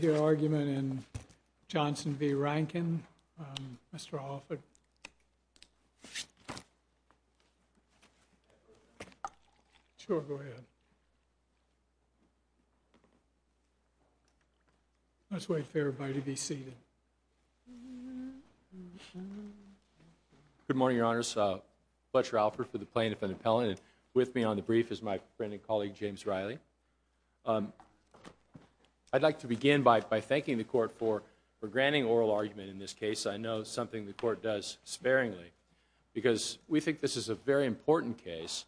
Your argument in Johnson v. Rankin. Mr. Alford. Sure, go ahead. Let's wait for everybody to be seated. Good morning, your honors. Butcher Alford for the plaintiff and appellant. With me on the brief is my friend and colleague, James Riley. I'd like to begin by thanking the court for granting oral argument in this case. I know it's something the court does sparingly because we think this is a very important case.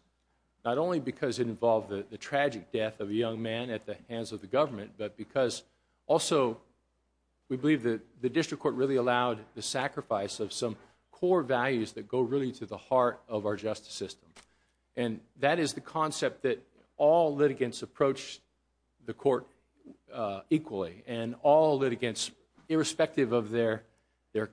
Not only because it involved the tragic death of a young man at the hands of the government, but because also we believe that the district court really allowed the sacrifice of some core values that go really to the heart of our justice system. And that is the concept that all litigants approach the court equally. And all litigants, irrespective of their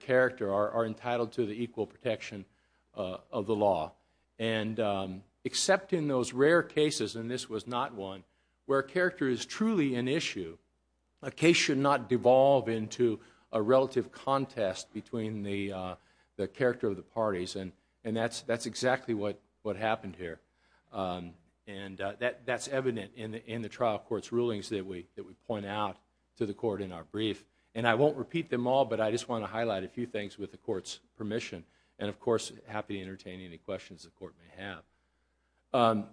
character, are entitled to the equal protection of the law. And except in those rare cases, and this was not one, where character is truly an issue, a case should not devolve into a relative contest between the character of the parties. And that's exactly what happened here. And that's evident in the trial court's rulings that we point out to the court in our brief. And I won't repeat them all, but I just want to highlight a few things with the court's permission. And of course, happy to entertain any questions the court may have.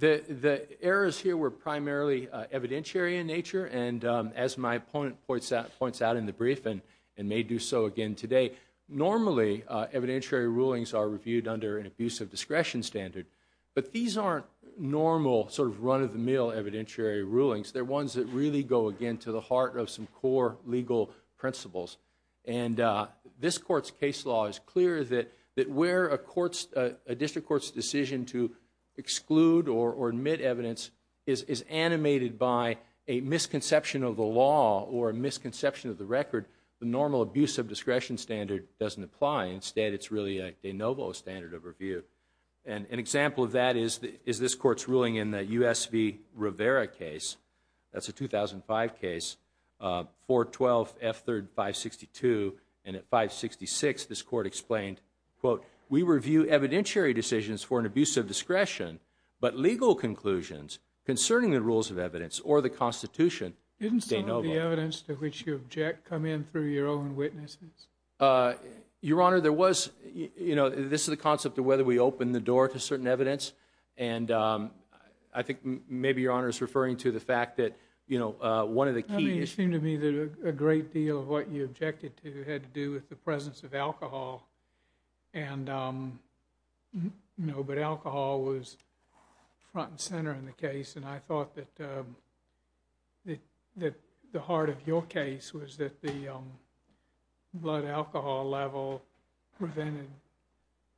The errors here were primarily evidentiary in nature. And as my opponent points out in the brief, and may do so again today, normally evidentiary rulings are reviewed under an abuse of discretion standard. But these aren't normal sort of run-of-the-mill evidentiary rulings. They're ones that really go, again, to the heart of some core legal principles. And this court's case law is clear that where a district court's decision to exclude or admit evidence is animated by a misconception of the law or a misconception of the record, the normal abuse of discretion standard doesn't apply. Instead, it's really a de novo standard of review. And an example of that is this court's ruling in the U.S. v. Rivera case. That's a 2005 case, 412 F. 3rd, 562. And at 566, this court explained, quote, we review evidentiary decisions for an abuse of discretion, but legal conclusions concerning the rules of evidence or the Constitution, de novo. Did the evidence to which you object come in through your own witnesses? Your Honor, there was, you know, this is the concept of whether we open the door to certain evidence, and I think maybe Your Honor is referring to the fact that, you know, one of the key issues. I mean, it seemed to me that a great deal of what you objected to had to do with the presence of alcohol. And, you know, but alcohol was front and center in the case, and I thought that the heart of your case was that the blood alcohol level prevented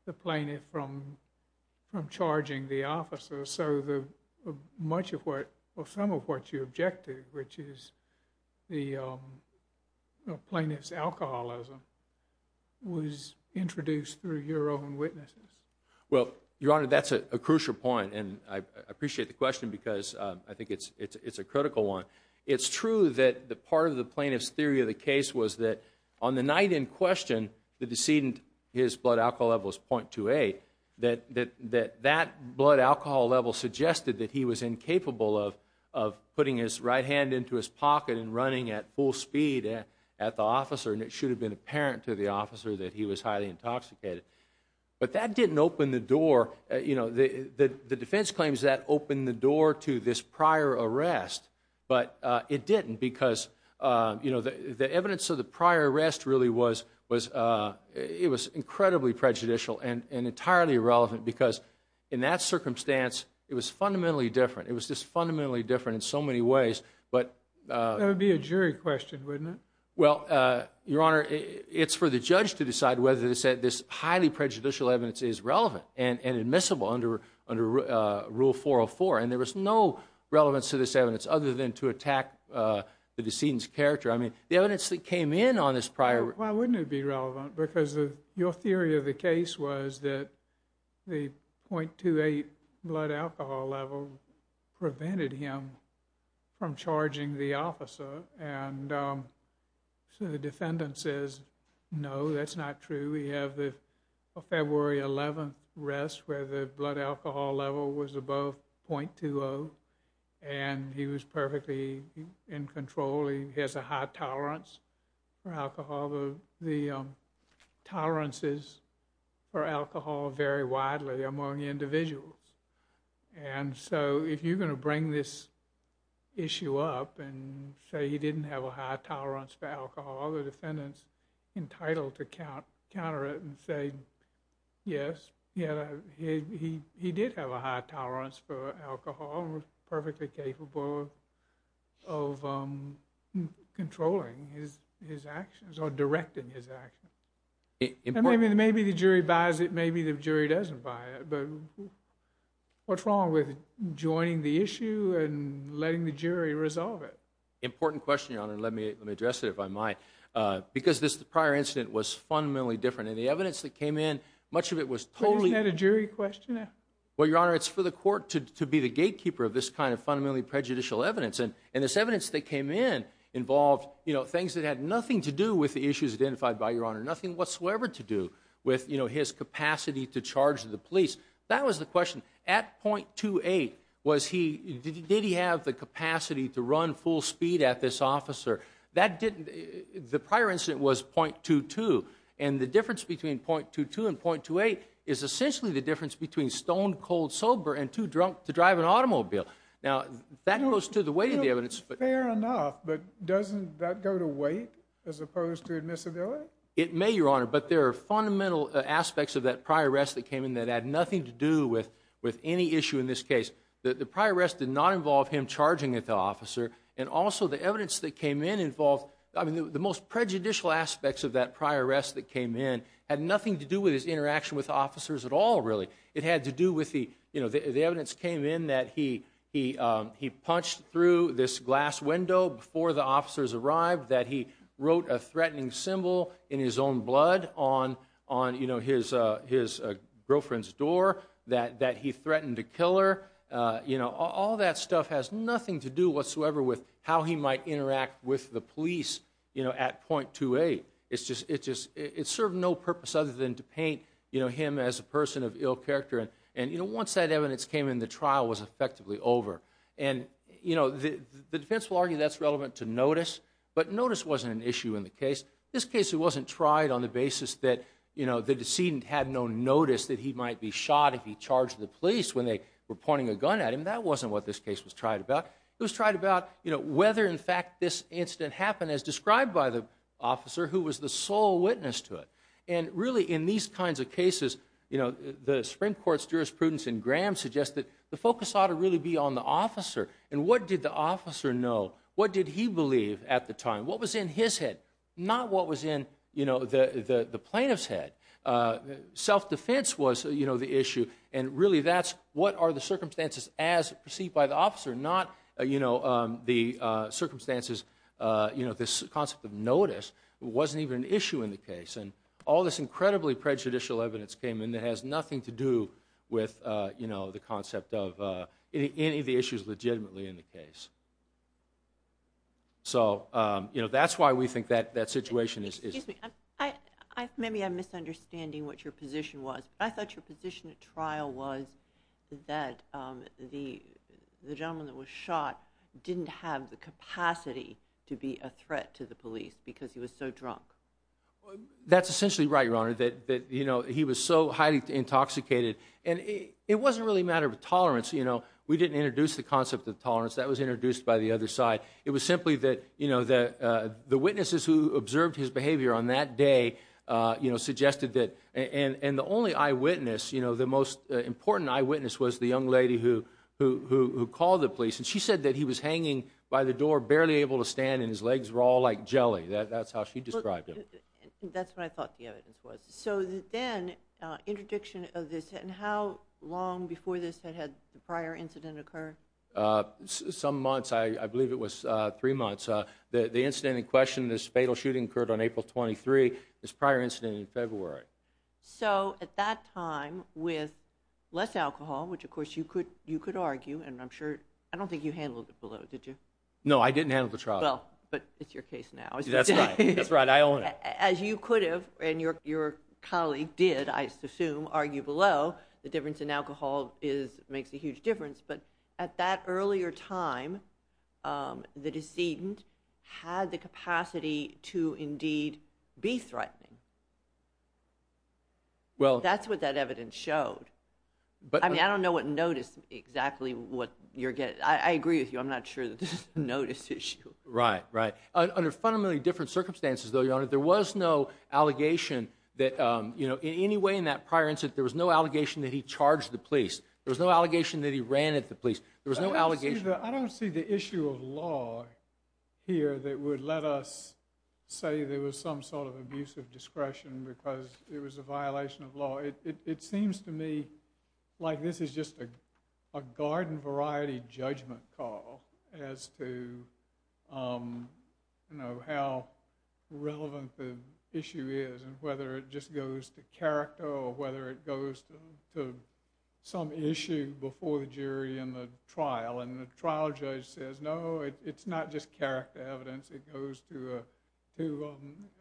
the plaintiff from charging the officer. So much of what or some of what you objected to, which is the plaintiff's alcoholism, was introduced through your own witnesses. Well, Your Honor, that's a crucial point, and I appreciate the question because I think it's a critical one. It's true that part of the plaintiff's theory of the case was that on the night in question, the decedent, his blood alcohol level was .28, that that blood alcohol level suggested that he was incapable of putting his right hand into his pocket and running at full speed at the officer, and it should have been apparent to the officer that he was highly intoxicated. But that didn't open the door. You know, the defense claims that opened the door to this prior arrest, but it didn't because, you know, the evidence of the prior arrest really was incredibly prejudicial and entirely irrelevant because in that circumstance, it was fundamentally different. It was just fundamentally different in so many ways. That would be a jury question, wouldn't it? Well, Your Honor, it's for the judge to decide whether to say this highly prejudicial evidence is relevant and admissible under Rule 404, and there was no relevance to this evidence other than to attack the decedent's character. I mean, the evidence that came in on this prior arrest. Why wouldn't it be relevant? Because your theory of the case was that the .28 blood alcohol level prevented him from charging the officer, and so the defendant says, no, that's not true. We have the February 11 arrest where the blood alcohol level was above .20, and he was perfectly in control. He has a high tolerance for alcohol. The tolerances for alcohol vary widely among individuals, and so if you're going to bring this issue up and say he didn't have a high tolerance for alcohol, the defendant's entitled to counter it and say, yes, he did have a high tolerance for alcohol and was perfectly capable of controlling his actions or directing his actions. Maybe the jury buys it, maybe the jury doesn't buy it, but what's wrong with joining the issue and letting the jury resolve it? Important question, Your Honor. Let me address it, if I might. Because this prior incident was fundamentally different, and the evidence that came in, much of it was totally- Isn't that a jury question? Well, Your Honor, it's for the court to be the gatekeeper of this kind of fundamentally prejudicial evidence, and this evidence that came in involved things that had nothing to do with the issues identified by Your Honor, nothing whatsoever to do with his capacity to charge the police. That was the question. At .28, did he have the capacity to run full speed at this officer? The prior incident was .22, and the difference between .22 and .28 is essentially the difference between stone-cold sober and too drunk to drive an automobile. Now, that goes to the weight of the evidence. Fair enough, but doesn't that go to weight as opposed to admissibility? It may, Your Honor, but there are fundamental aspects of that prior arrest that came in that had nothing to do with any issue in this case. The prior arrest did not involve him charging at the officer, and also the evidence that came in involved- I mean, the most prejudicial aspects of that prior arrest that came in had nothing to do with his interaction with the officers at all, really. It had to do with the- The evidence came in that he punched through this glass window before the officers arrived, that he wrote a threatening symbol in his own blood on his girlfriend's door, that he threatened to kill her. All that stuff has nothing to do whatsoever with how he might interact with the police at .28. It served no purpose other than to paint him as a person of ill character, and once that evidence came in, the trial was effectively over. The defense will argue that's relevant to notice, but notice wasn't an issue in the case. This case wasn't tried on the basis that the decedent had no notice that he might be shot if he charged the police when they were pointing a gun at him. That wasn't what this case was tried about. It was tried about whether, in fact, this incident happened, as described by the officer who was the sole witness to it. Really, in these kinds of cases, the Supreme Court's jurisprudence in Graham suggests that the focus ought to really be on the officer, and what did the officer know? What did he believe at the time? What was in his head, not what was in the plaintiff's head? Self-defense was the issue, and really that's what are the circumstances as perceived by the officer, not the circumstances, this concept of notice wasn't even an issue in the case. All this incredibly prejudicial evidence came in that has nothing to do with the concept of any of the issues legitimately in the case. That's why we think that situation is... Excuse me, maybe I'm misunderstanding what your position was, but I thought your position at trial was that the gentleman that was shot didn't have the capacity to be a threat to the police because he was so drunk. That's essentially right, Your Honor, that he was so highly intoxicated, and it wasn't really a matter of tolerance. We didn't introduce the concept of tolerance. That was introduced by the other side. It was simply that the witnesses who observed his behavior on that day suggested that... And the only eyewitness, the most important eyewitness, was the young lady who called the police, and she said that he was hanging by the door, barely able to stand, and his legs were all like jelly. That's how she described him. That's what I thought the evidence was. So then, interdiction of this, and how long before this had had the prior incident occur? Some months. I believe it was three months. The incident in question, this fatal shooting occurred on April 23, this prior incident in February. So at that time, with less alcohol, which of course you could argue, and I'm sure, I don't think you handled it below, did you? No, I didn't handle the trial. Well, but it's your case now. That's right, that's right, I own it. As you could have, and your colleague did, I assume, argue below, the difference in alcohol makes a huge difference, but at that earlier time, the decedent had the capacity to indeed be threatening. Well... That's what that evidence showed. I mean, I don't know what notice, exactly what you're getting. I agree with you. I'm not sure that this is a notice issue. Right, right. Under fundamentally different circumstances, though, Your Honor, there was no allegation that, in any way in that prior incident, there was no allegation that he charged the police. There was no allegation that he ran at the police. There was no allegation... I don't see the issue of law here that would let us say there was some sort of abusive discretion because it was a violation of law. It seems to me like this is just a garden-variety judgment call as to how relevant the issue is and whether it just goes to character or whether it goes to some issue before the jury in the trial. And the trial judge says, no, it's not just character evidence. It goes to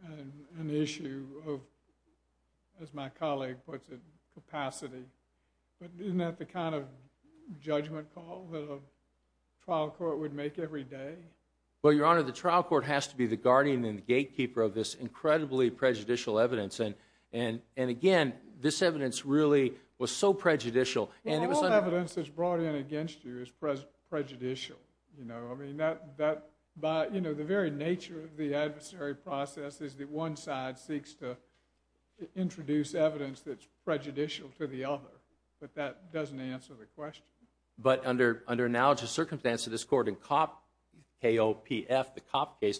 an issue of, as my colleague puts it, capacity. But isn't that the kind of judgment call that a trial court would make every day? Well, Your Honor, the trial court has to be the guardian and the gatekeeper of this incredibly prejudicial evidence. And, again, this evidence really was so prejudicial. Well, all evidence that's brought in against you is prejudicial. The very nature of the adversary process is that one side seeks to introduce evidence that's prejudicial to the other, but that doesn't answer the question. But under analogous circumstances, this court in KOPF, the Kopp case,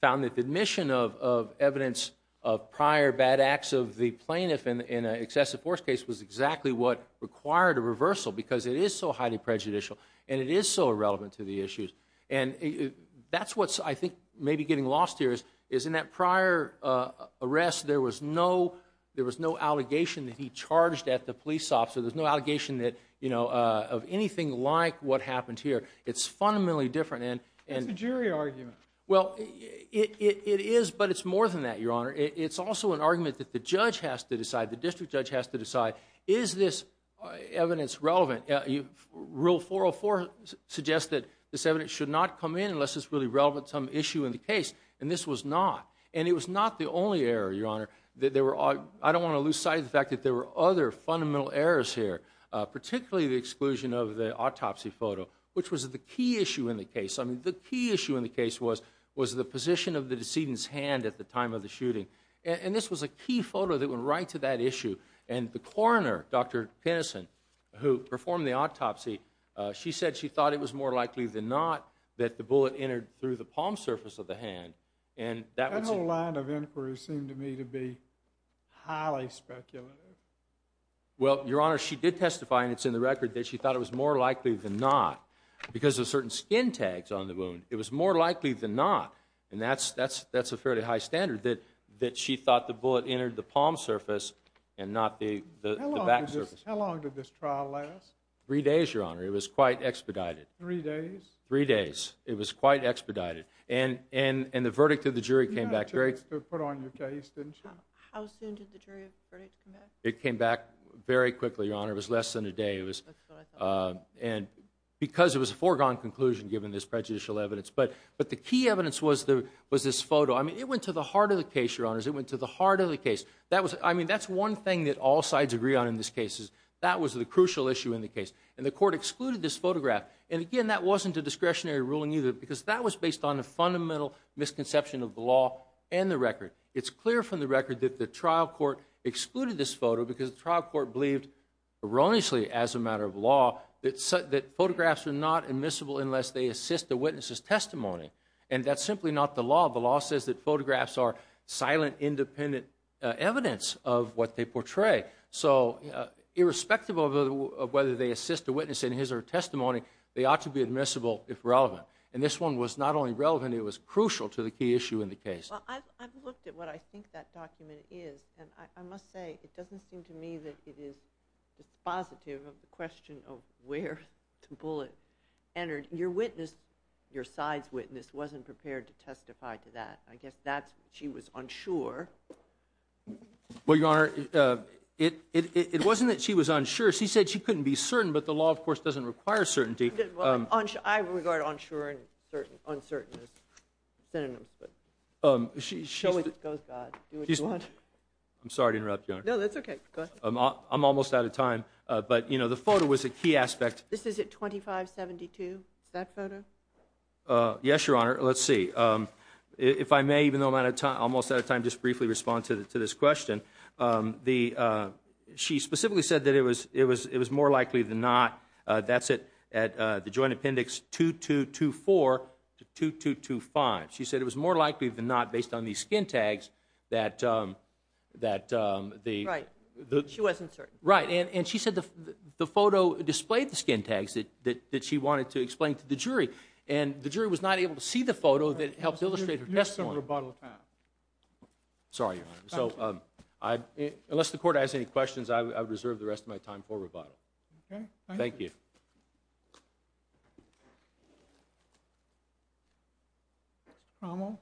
found that the admission of evidence of prior bad acts of the plaintiff in an excessive force case was exactly what required a reversal because it is so highly prejudicial and it is so irrelevant to the issues. And that's what I think may be getting lost here is in that prior arrest, there was no allegation that he charged at the police officer. There's no allegation of anything like what happened here. It's fundamentally different. That's a jury argument. Well, it is, but it's more than that, Your Honor. It's also an argument that the judge has to decide, the district judge has to decide, is this evidence relevant? Rule 404 suggests that this evidence should not come in unless it's really relevant to some issue in the case, and this was not. And it was not the only error, Your Honor. I don't want to lose sight of the fact that there were other fundamental errors here, particularly the exclusion of the autopsy photo, which was the key issue in the case. I mean, the key issue in the case was the position of the decedent's hand at the time of the shooting. And this was a key photo that went right to that issue. And the coroner, Dr. Penison, who performed the autopsy, she said she thought it was more likely than not that the bullet entered through the palm surface of the hand. That whole line of inquiry seemed to me to be highly speculative. Well, Your Honor, she did testify, and it's in the record, that she thought it was more likely than not because of certain skin tags on the wound. It was more likely than not, and that's a fairly high standard, that she thought the bullet entered the palm surface and not the back surface. How long did this trial last? Three days, Your Honor. It was quite expedited. Three days? Three days. It was quite expedited. And the verdict of the jury came back great. You had two weeks to put on your case, didn't you? How soon did the jury verdict come back? It came back very quickly, Your Honor. It was less than a day. And because it was a foregone conclusion given this prejudicial evidence. But the key evidence was this photo. I mean, it went to the heart of the case, Your Honors. It went to the heart of the case. I mean, that's one thing that all sides agree on in this case, is that was the crucial issue in the case. And the court excluded this photograph. And, again, that wasn't a discretionary ruling either because that was based on a fundamental misconception of the law and the record. It's clear from the record that the trial court excluded this photo because the trial court believed erroneously, as a matter of law, that photographs are not admissible unless they assist the witness's testimony. And that's simply not the law. The law says that photographs are silent, independent evidence of what they portray. So irrespective of whether they assist the witness in his or her testimony, they ought to be admissible if relevant. And this one was not only relevant, it was crucial to the key issue in the case. Well, I've looked at what I think that document is, and I must say it doesn't seem to me that it is dispositive of the question of where the bullet entered. And your witness, your side's witness, wasn't prepared to testify to that. I guess she was unsure. Well, Your Honor, it wasn't that she was unsure. She said she couldn't be certain, but the law, of course, doesn't require certainty. I regard unsure and uncertainty as synonyms. Show what goes, God. Do what you want. I'm sorry to interrupt, Your Honor. No, that's okay. Go ahead. I'm almost out of time. But, you know, the photo was a key aspect. This is at 2572. Is that photo? Yes, Your Honor. Let's see. If I may, even though I'm almost out of time, just briefly respond to this question. She specifically said that it was more likely than not, that's it, at the joint appendix 2224 to 2225. She said it was more likely than not, based on these skin tags, that the – Right. She wasn't certain. Right. And she said the photo displayed the skin tags that she wanted to explain to the jury. And the jury was not able to see the photo that helped illustrate her testimony. You have some rebuttal time. Sorry, Your Honor. So unless the Court has any questions, I reserve the rest of my time for rebuttal. Thank you. Mr. Cromwell.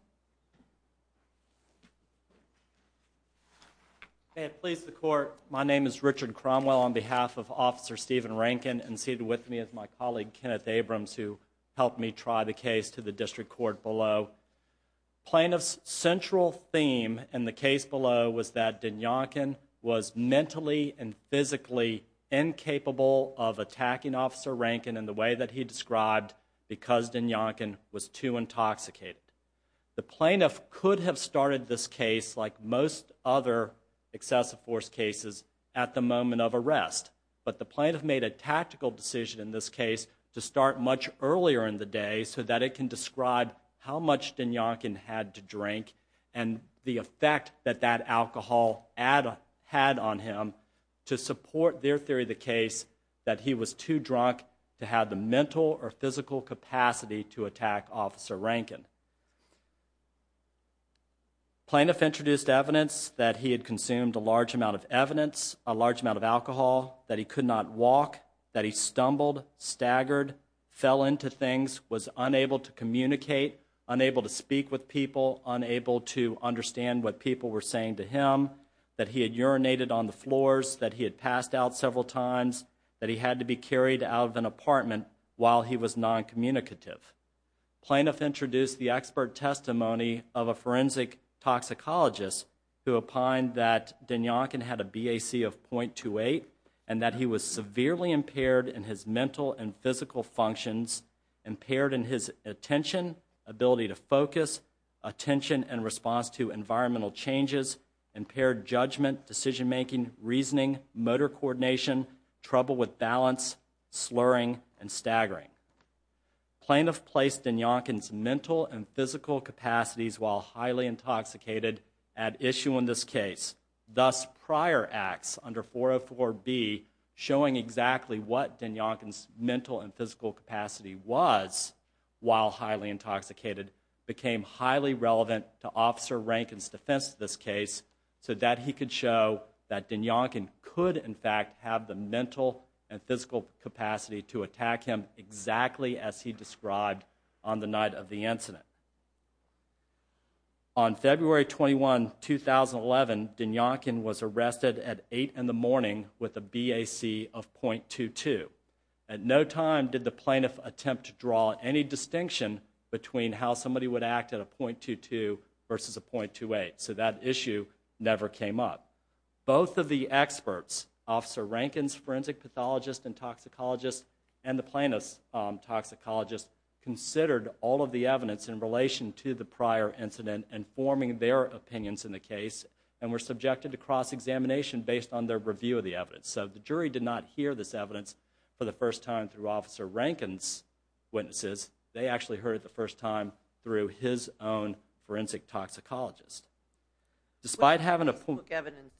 May it please the Court. My name is Richard Cromwell on behalf of Officer Stephen Rankin, and seated with me is my colleague, Kenneth Abrams, who helped me try the case to the District Court below. Plaintiff's central theme in the case below was that Dinyonkin was mentally and physically incapable of attacking Officer Rankin in the way that he described because Dinyonkin was too intoxicated. The plaintiff could have started this case, like most other excessive force cases, at the moment of arrest. But the plaintiff made a tactical decision in this case to start much earlier in the day so that it can describe how much Dinyonkin had to drink and the effect that that alcohol had on him to support their theory of the case that he was too drunk to have the mental or physical capacity to attack Officer Rankin. Plaintiff introduced evidence that he had consumed a large amount of evidence, a large amount of alcohol, that he could not walk, that he stumbled, staggered, fell into things, was unable to communicate, unable to speak with people, unable to understand what people were saying to him, that he had urinated on the floors, that he had passed out several times, that he had to be carried out of an apartment while he was noncommunicative. Plaintiff introduced the expert testimony of a forensic toxicologist who opined that Dinyonkin had a BAC of 0.28 and that he was severely impaired in his mental and physical functions, impaired in his attention, ability to focus, attention and response to environmental changes, impaired judgment, decision making, reasoning, motor coordination, trouble with balance, slurring and staggering. Plaintiff placed Dinyonkin's mental and physical capacities while highly intoxicated at issue in this case. Thus, prior acts under 404B showing exactly what Dinyonkin's mental and physical capacity was while highly intoxicated became highly relevant to Officer Rankin's defense of this case so that he could show that Dinyonkin could in fact have the mental and physical capacity to attack him exactly as he described on the night of the incident. On February 21, 2011, Dinyonkin was arrested at 8 in the morning with a BAC of 0.22. At no time did the plaintiff attempt to draw any distinction between how somebody would act at a 0.22 versus a 0.28, so that issue never came up. Both of the experts, Officer Rankin's forensic pathologist and toxicologist and the plaintiff's toxicologist, considered all of the evidence in relation to the prior incident and forming their opinions in the case and were subjected to cross-examination based on their review of the evidence. So the jury did not hear this evidence for the first time through Officer Rankin's witnesses. They actually heard it the first time through his own forensic toxicologist. Despite having a point... This evidence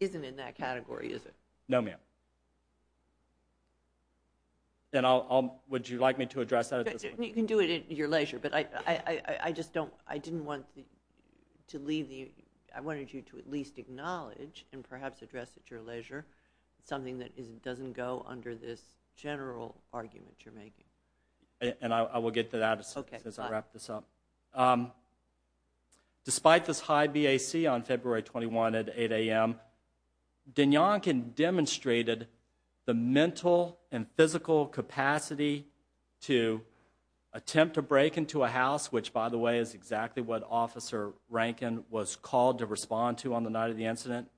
isn't in that category, is it? No, ma'am. Would you like me to address that at this point? You can do it at your leisure, but I just don't... I didn't want to leave the... I wanted you to at least acknowledge and perhaps address at your leisure something that doesn't go under this general argument you're making. And I will get to that as I wrap this up. Despite this high BAC on February 21 at 8 a.m., Dinyonkin demonstrated the mental and physical capacity to attempt to break into a house, which, by the way, is exactly what Officer Rankin was called to respond to on the night of the incident,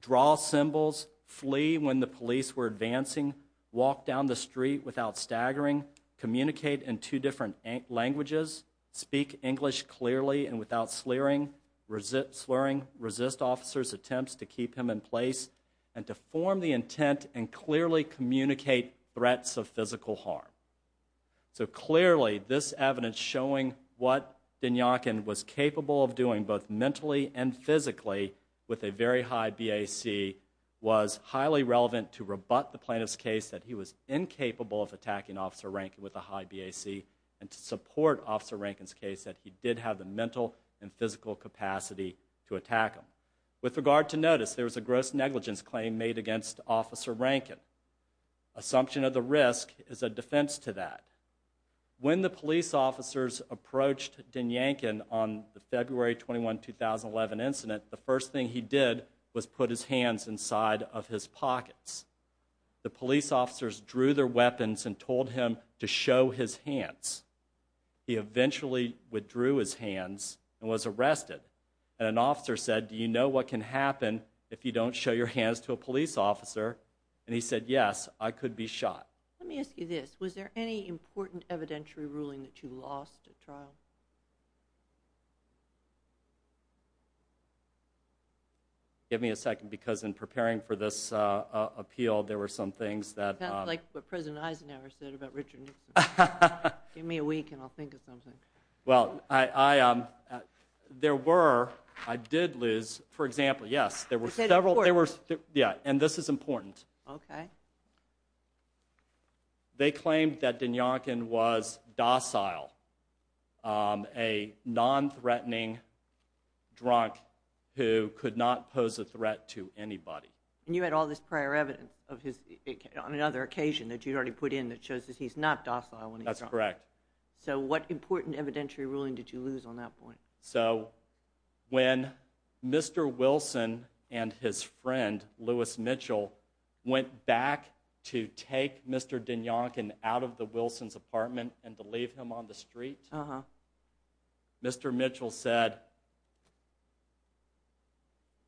draw symbols, flee when the police were advancing, walk down the street without staggering, communicate in two different languages, speak English clearly and without slurring, resist officers' attempts to keep him in place, and to form the intent and clearly communicate threats of physical harm. So clearly this evidence showing what Dinyonkin was capable of doing, both mentally and physically, with a very high BAC was highly relevant to rebut the plaintiff's case that he was incapable of attacking Officer Rankin with a high BAC and to support Officer Rankin's case that he did have the mental and physical capacity to attack him. With regard to notice, there was a gross negligence claim made against Officer Rankin. Assumption of the risk is a defense to that. When the police officers approached Dinyonkin on the February 21, 2011 incident, the first thing he did was put his hands inside of his pockets. The police officers drew their weapons and told him to show his hands. He eventually withdrew his hands and was arrested. An officer said, do you know what can happen if you don't show your hands to a police officer? And he said, yes, I could be shot. Let me ask you this. Was there any important evidentiary ruling that you lost at trial? Give me a second, because in preparing for this appeal, there were some things that... Sounds like what President Eisenhower said about Richard Nixon. Give me a week and I'll think of something. Well, there were. I did, Liz. For example, yes, there were several... Yeah, and this is important. Okay. They claimed that Dinyonkin was docile, a non-threatening drunk who could not pose a threat to anybody. And you had all this prior evidence on another occasion that you'd already put in that shows that he's not docile when he's drunk. That's correct. So what important evidentiary ruling did you lose on that point? So when Mr. Wilson and his friend, Louis Mitchell, went back to take Mr. Dinyonkin out of the Wilsons' apartment and to leave him on the street, Mr. Mitchell said,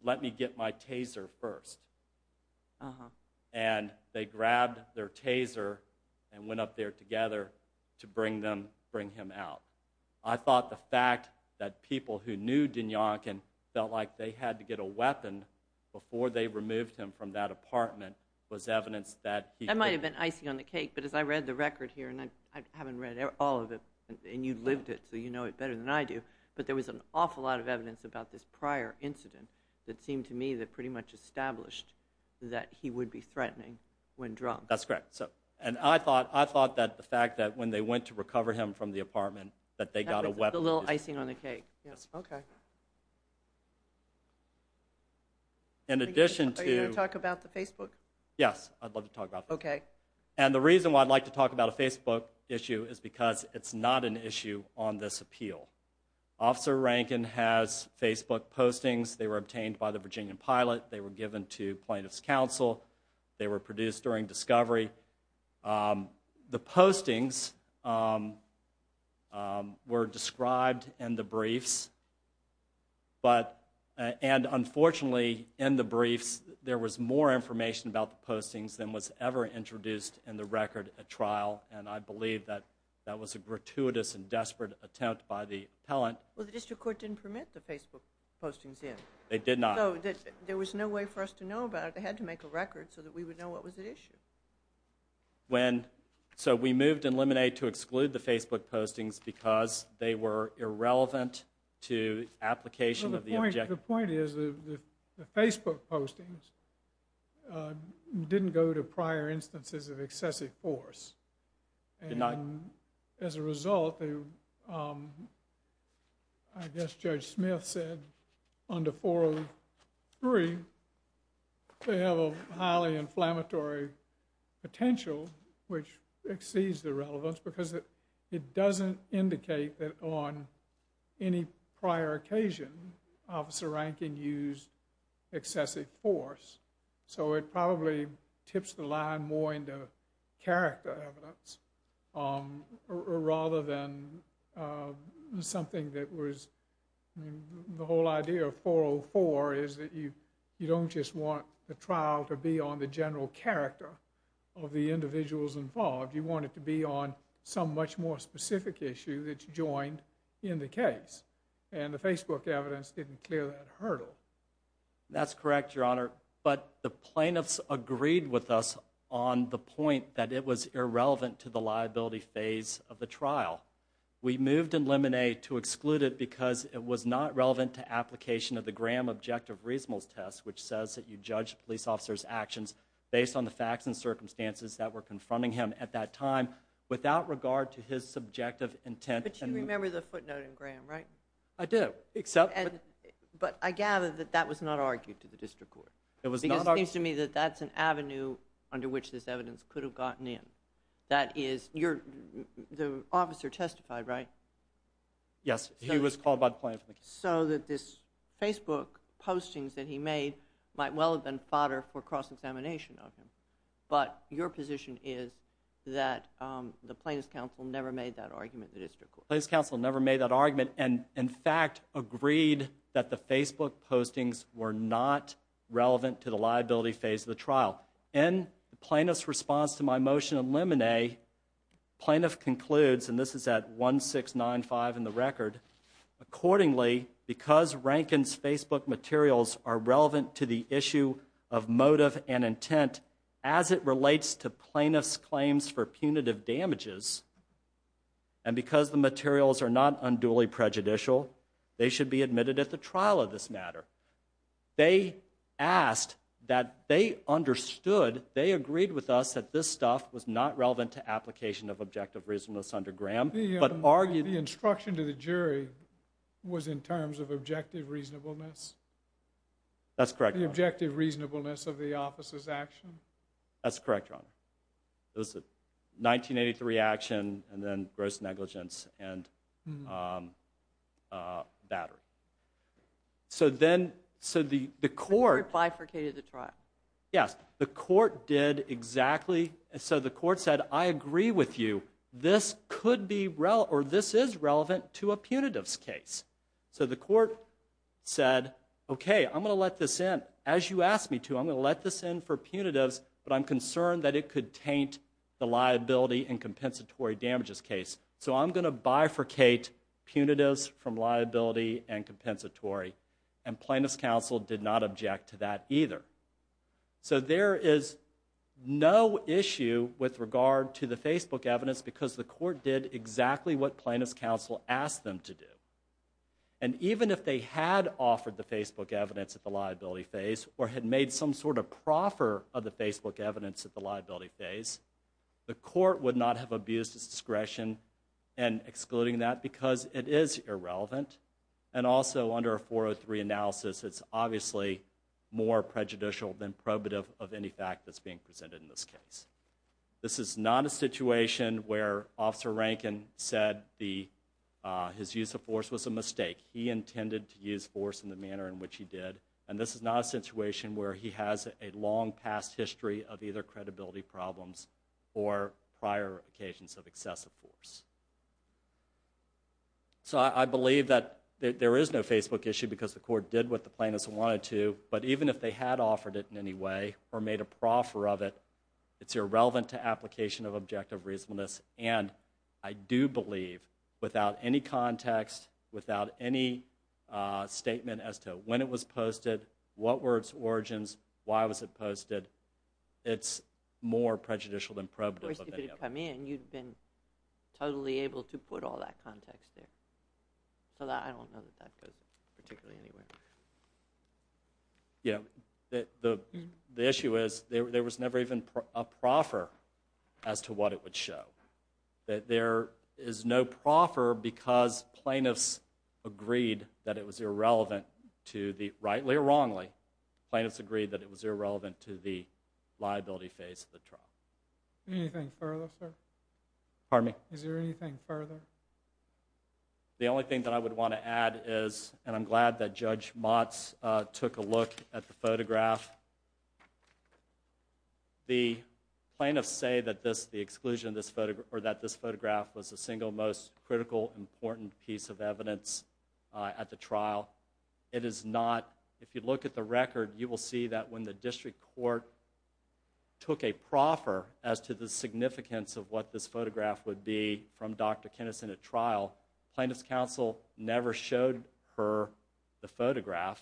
let me get my taser first. And they grabbed their taser and went up there together to bring him out. I thought the fact that people who knew Dinyonkin felt like they had to get a weapon before they removed him from that apartment was evidence that he could... That might have been icing on the cake, but as I read the record here, and I haven't read all of it, and you lived it so you know it better than I do, but there was an awful lot of evidence about this prior incident that seemed to me that pretty much established that he would be threatening when drunk. That's correct. And I thought that the fact that when they went to recover him from the apartment that they got a weapon... That was the little icing on the cake. Yes. Okay. In addition to... Are you going to talk about the Facebook? Yes, I'd love to talk about that. Okay. And the reason why I'd like to talk about a Facebook issue is because it's not an issue on this appeal. Officer Rankin has Facebook postings. They were obtained by the Virginia Pilot. They were given to plaintiff's counsel. They were produced during discovery. The postings were described in the briefs, and unfortunately in the briefs there was more information about the postings than was ever introduced in the record at trial, and I believe that that was a gratuitous and desperate attempt by the appellant. Well, the district court didn't permit the Facebook postings yet. They did not. So there was no way for us to know about it. They had to make a record so that we would know what was at issue. So we moved in Lemonade to exclude the Facebook postings because they were irrelevant to application of the objection. The point is the Facebook postings didn't go to prior instances of excessive force. Did not. And as a result, I guess Judge Smith said under 403, they have a highly inflammatory potential which exceeds the relevance because it doesn't indicate that on any prior occasion Officer Rankin used excessive force. So it probably tips the line more into character evidence rather than something that was the whole idea of 404 is that you don't just want the trial to be on the general character of the individuals involved. You want it to be on some much more specific issue that's joined in the case, and the Facebook evidence didn't clear that hurdle. That's correct, Your Honor, but the plaintiffs agreed with us on the point that it was irrelevant to the liability phase of the trial. We moved in Lemonade to exclude it because it was not relevant to application of the Graham Objective Reasonables Test, which says that you judge a police officer's actions based on the facts and circumstances that were confronting him at that time without regard to his subjective intent. But you remember the footnote in Graham, right? I do. But I gather that that was not argued to the district court. It was not argued. Because it seems to me that that's an avenue under which this evidence could have gotten in. The officer testified, right? Yes, he was called by the plaintiff. So that this Facebook postings that he made might well have been fodder for cross-examination of him, but your position is that the plaintiff's counsel never made that argument in the district court. The plaintiff's counsel never made that argument and, in fact, agreed that the Facebook postings were not relevant to the liability phase of the trial. In the plaintiff's response to my motion in Lemonade, the plaintiff concludes, and this is at 1695 in the record, accordingly, because Rankin's Facebook materials are relevant to the issue of motive and intent as it relates to plaintiff's claims for punitive damages, and because the materials are not unduly prejudicial, they should be admitted at the trial of this matter. They asked that they understood, they agreed with us that this stuff was not relevant to application of objective reasonableness under Graham, but argued... The instruction to the jury was in terms of objective reasonableness? That's correct, Your Honor. The objective reasonableness of the officer's action? That's correct, Your Honor. It was a 1983 action and then gross negligence and battery. So then, so the court... The court bifurcated the trial. Yes. The court did exactly... So the court said, I agree with you. This could be... Or this is relevant to a punitive's case. So the court said, okay, I'm going to let this in. As you asked me to, I'm going to let this in for punitives, but I'm concerned that it could taint the liability and compensatory damages case. So I'm going to bifurcate punitives from liability and compensatory. And plaintiff's counsel did not object to that either. So there is no issue with regard to the Facebook evidence because the court did exactly what plaintiff's counsel asked them to do. And even if they had offered the Facebook evidence at the liability phase or had made some sort of proffer of the Facebook evidence at the liability phase, the court would not have abused its discretion in excluding that because it is irrelevant. And also, under a 403 analysis, it's obviously more prejudicial than probative of any fact that's being presented in this case. This is not a situation where Officer Rankin said his use of force was a mistake. He intended to use force in the manner in which he did. And this is not a situation where he has a long past history of either credibility problems or prior occasions of excessive force. So I believe that there is no Facebook issue because the court did what the plaintiffs wanted to, but even if they had offered it in any way or made a proffer of it, it's irrelevant to application of objective reasonableness. And I do believe, without any context, without any statement as to when it was posted, what were its origins, why was it posted, it's more prejudicial than probative of any of them. Of course, if it had come in, you'd have been totally able to put all that context there. So I don't know that that goes particularly anywhere. The issue is there was never even a proffer as to what it would show. There is no proffer because plaintiffs agreed that it was irrelevant to the, rightly or wrongly, plaintiffs agreed that it was irrelevant to the liability phase of the trial. Anything further, sir? Pardon me? Is there anything further? The only thing that I would want to add is, and I'm glad that Judge Motz took a look at the photograph. The plaintiffs say that this, the exclusion of this photograph, or that this photograph was the single most critical, important piece of evidence at the trial. It is not. If you look at the record, you will see that when the district court took a proffer as to the significance of what this photograph would be from Dr. Kennison at trial, plaintiffs' counsel never showed her the photograph.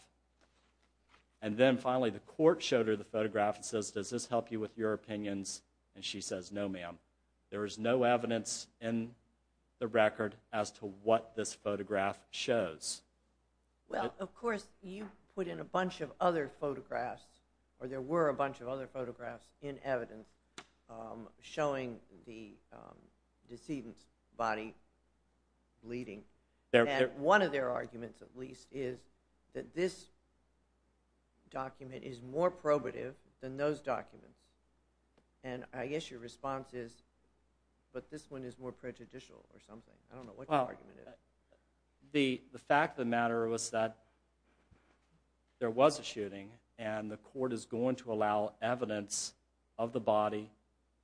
And then finally, the court showed her the photograph and says, does this help you with your opinions? And she says, no, ma'am. There is no evidence in the record as to what this photograph shows. Well, of course, you put in a bunch of other photographs, or there were a bunch of other photographs in evidence showing the decedent's body bleeding. And one of their arguments, at least, is that this document is more probative than those documents. And I guess your response is, but this one is more prejudicial or something. I don't know what your argument is. The fact of the matter was that there was a shooting, and the court is going to allow evidence of the body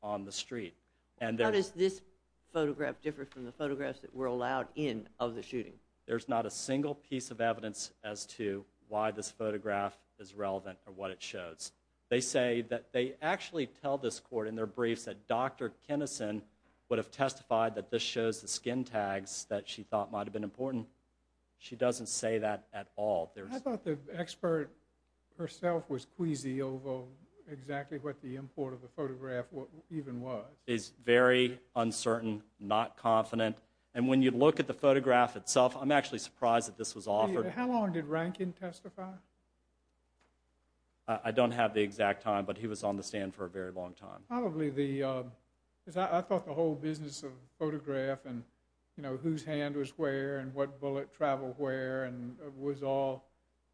on the street. How does this photograph differ from the photographs that were allowed in of the shooting? There's not a single piece of evidence as to why this photograph is relevant or what it shows. They say that they actually tell this court in their briefs that Dr. Kinnison would have testified that this shows the skin tags that she thought might have been important. She doesn't say that at all. I thought the expert herself was queasy over exactly what the import of the photograph even was. It's very uncertain, not confident. And when you look at the photograph itself, I'm actually surprised that this was offered. How long did Rankin testify? I don't have the exact time, but he was on the stand for a very long time. I thought the whole business of photograph and whose hand was where and what bullet traveled where was all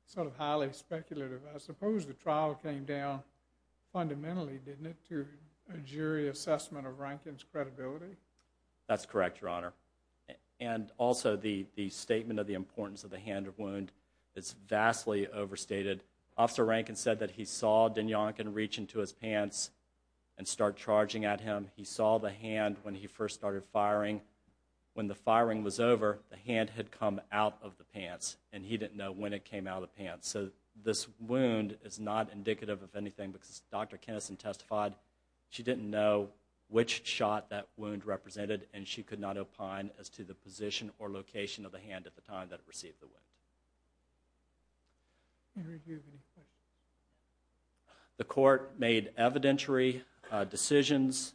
sort of highly speculative. I suppose the trial came down fundamentally, didn't it, to a jury assessment of Rankin's credibility? That's correct, Your Honor. And also the statement of the importance of the hand or wound is vastly overstated. Officer Rankin said that he saw Dinyonkin reach into his pants and start charging at him. He saw the hand when he first started firing. When the firing was over, the hand had come out of the pants, and he didn't know when it came out of the pants. So this wound is not indicative of anything because Dr. Kinnison testified she didn't know which shot that wound represented, and she could not opine as to the position or location of the hand at the time that it received the wound. The court made evidentiary decisions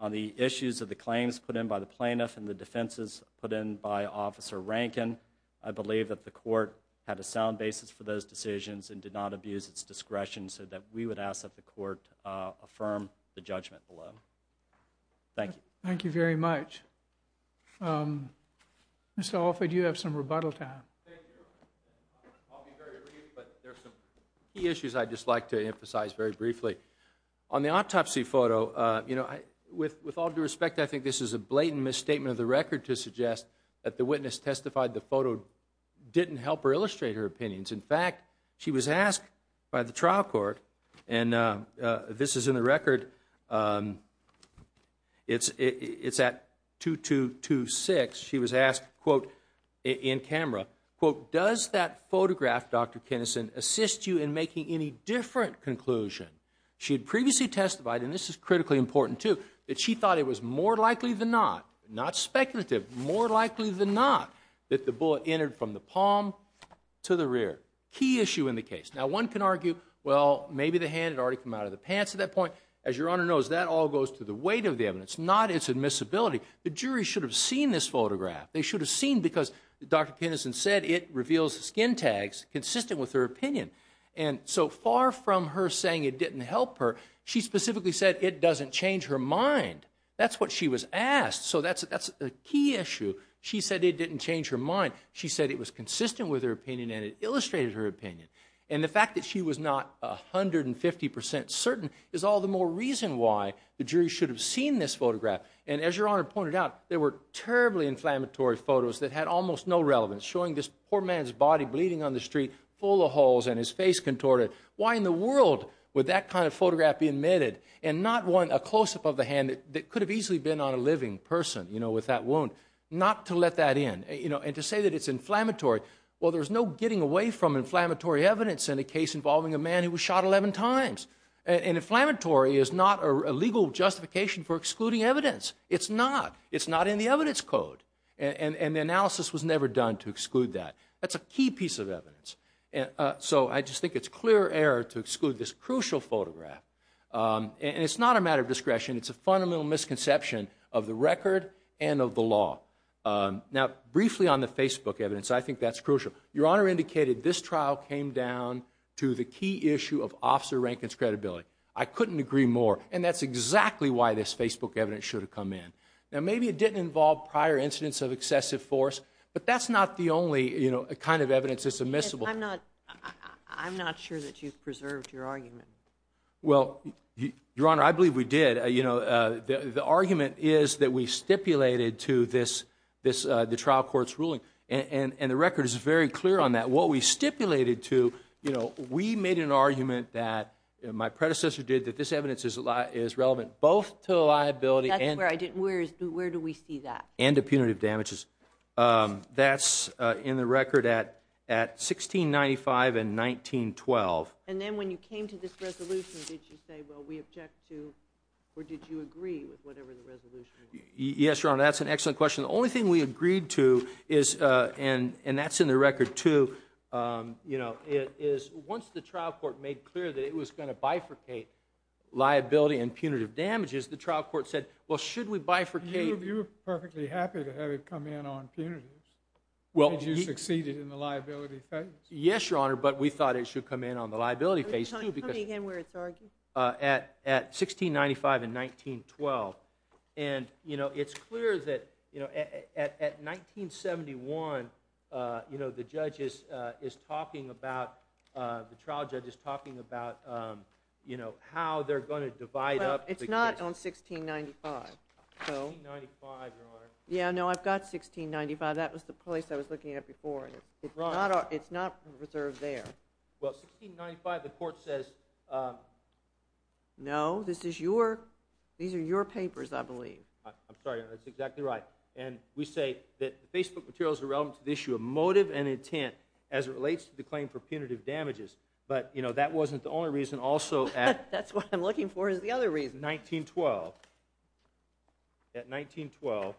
on the issues of the claims put in by the plaintiff and the defenses put in by Officer Rankin. I believe that the court had a sound basis for those decisions and did not abuse its discretion so that we would ask that the court affirm the judgment below. Thank you. Thank you very much. Mr. Alford, you have some rebuttal time. Thank you, Your Honor. I'll be very brief, but there are some key issues I'd just like to emphasize very briefly. On the autopsy photo, you know, with all due respect, I think this is a blatant misstatement of the record In fact, she was asked by the trial court, and this is in the record. It's at 2-2-2-6. She was asked, quote, in camera, quote, Does that photograph, Dr. Kinnison, assist you in making any different conclusion? She had previously testified, and this is critically important too, that she thought it was more likely than not, not speculative, more likely than not, that the bullet entered from the palm to the rear. Key issue in the case. Now, one can argue, well, maybe the hand had already come out of the pants at that point. As Your Honor knows, that all goes to the weight of the evidence, not its admissibility. The jury should have seen this photograph. They should have seen because Dr. Kinnison said it reveals skin tags consistent with her opinion. And so far from her saying it didn't help her, she specifically said it doesn't change her mind. That's what she was asked. So that's a key issue. She said it didn't change her mind. She said it was consistent with her opinion, and it illustrated her opinion. And the fact that she was not 150% certain is all the more reason why the jury should have seen this photograph. And as Your Honor pointed out, there were terribly inflammatory photos that had almost no relevance, showing this poor man's body bleeding on the street, full of holes, and his face contorted. Why in the world would that kind of photograph be admitted and not want a close-up of the hand that could have easily been on a living person with that wound? Not to let that in. And to say that it's inflammatory, well, there's no getting away from inflammatory evidence in a case involving a man who was shot 11 times. And inflammatory is not a legal justification for excluding evidence. It's not. It's not in the evidence code. That's a key piece of evidence. So I just think it's clear error to exclude this crucial photograph. And it's not a matter of discretion. It's a fundamental misconception of the record and of the law. Now, briefly on the Facebook evidence, I think that's crucial. Your Honor indicated this trial came down to the key issue of Officer Rankin's credibility. I couldn't agree more. And that's exactly why this Facebook evidence should have come in. Now, maybe it didn't involve prior incidents of excessive force, but that's not the only kind of evidence that's admissible. I'm not sure that you've preserved your argument. Well, Your Honor, I believe we did. The argument is that we stipulated to the trial court's ruling. And the record is very clear on that. What we stipulated to, you know, we made an argument that my predecessor did that this evidence is relevant both to liability and to punitive damages. That's in the record at 1695 and 1912. And then when you came to this resolution, did you say, well, we object to, or did you agree with whatever the resolution was? Yes, Your Honor, that's an excellent question. The only thing we agreed to is, and that's in the record too, you know, is once the trial court made clear that it was going to bifurcate liability and punitive damages, the trial court said, well, should we bifurcate? You were perfectly happy to have it come in on punitives. You succeeded in the liability phase. Yes, Your Honor, but we thought it should come in on the liability phase too. Tell me again where it's argued. At 1695 and 1912. And, you know, it's clear that, you know, at 1971, you know, the trial judge is talking about, you know, how they're going to divide up. It's not on 1695. 1695, Your Honor. Yeah, no, I've got 1695. That was the place I was looking at before. It's not reserved there. Well, 1695, the court says. No, this is your, these are your papers, I believe. I'm sorry, Your Honor, that's exactly right. And we say that the Facebook material is irrelevant to the issue of motive and intent as it relates to the claim for punitive damages. But, you know, that wasn't the only reason also. That's what I'm looking for is the other reason. 1912. At 1912,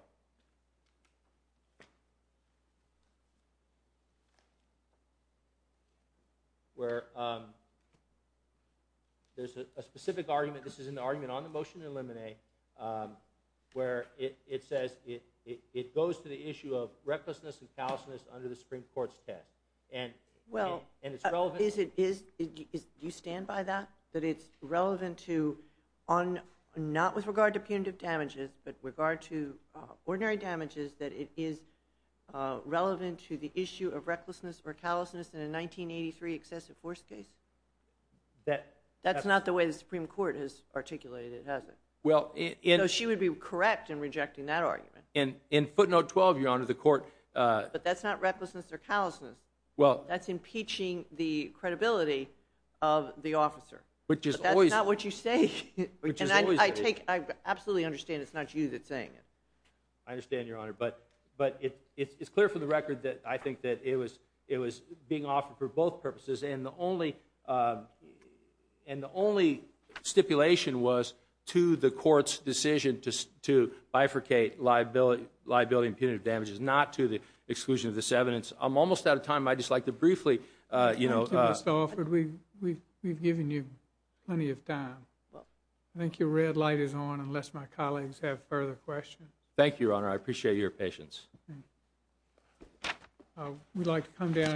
where there's a specific argument, this is an argument on the motion to eliminate, where it says it goes to the issue of recklessness and callousness under the Supreme Court's test. Well, do you stand by that? That it's relevant to, not with regard to punitive damages, but with regard to ordinary damages, that it is relevant to the issue of recklessness or callousness in a 1983 excessive force case? That's not the way the Supreme Court has articulated it, has it? So she would be correct in rejecting that argument. In footnote 12, Your Honor, the court… But that's not recklessness or callousness. Well… That's impeaching the credibility of the officer. Which is always… That's not what you say. Which is always… And I absolutely understand it's not you that's saying it. I understand, Your Honor, but it's clear from the record that I think that it was being offered for both purposes, and the only stipulation was to the court's decision to bifurcate liability and punitive damages, not to the exclusion of this evidence. I'm almost out of time. I'd just like to briefly… Thank you, Mr. Alford. We've given you plenty of time. I think your red light is on, unless my colleagues have further questions. Thank you, Your Honor. I appreciate your patience. We'd like to come down…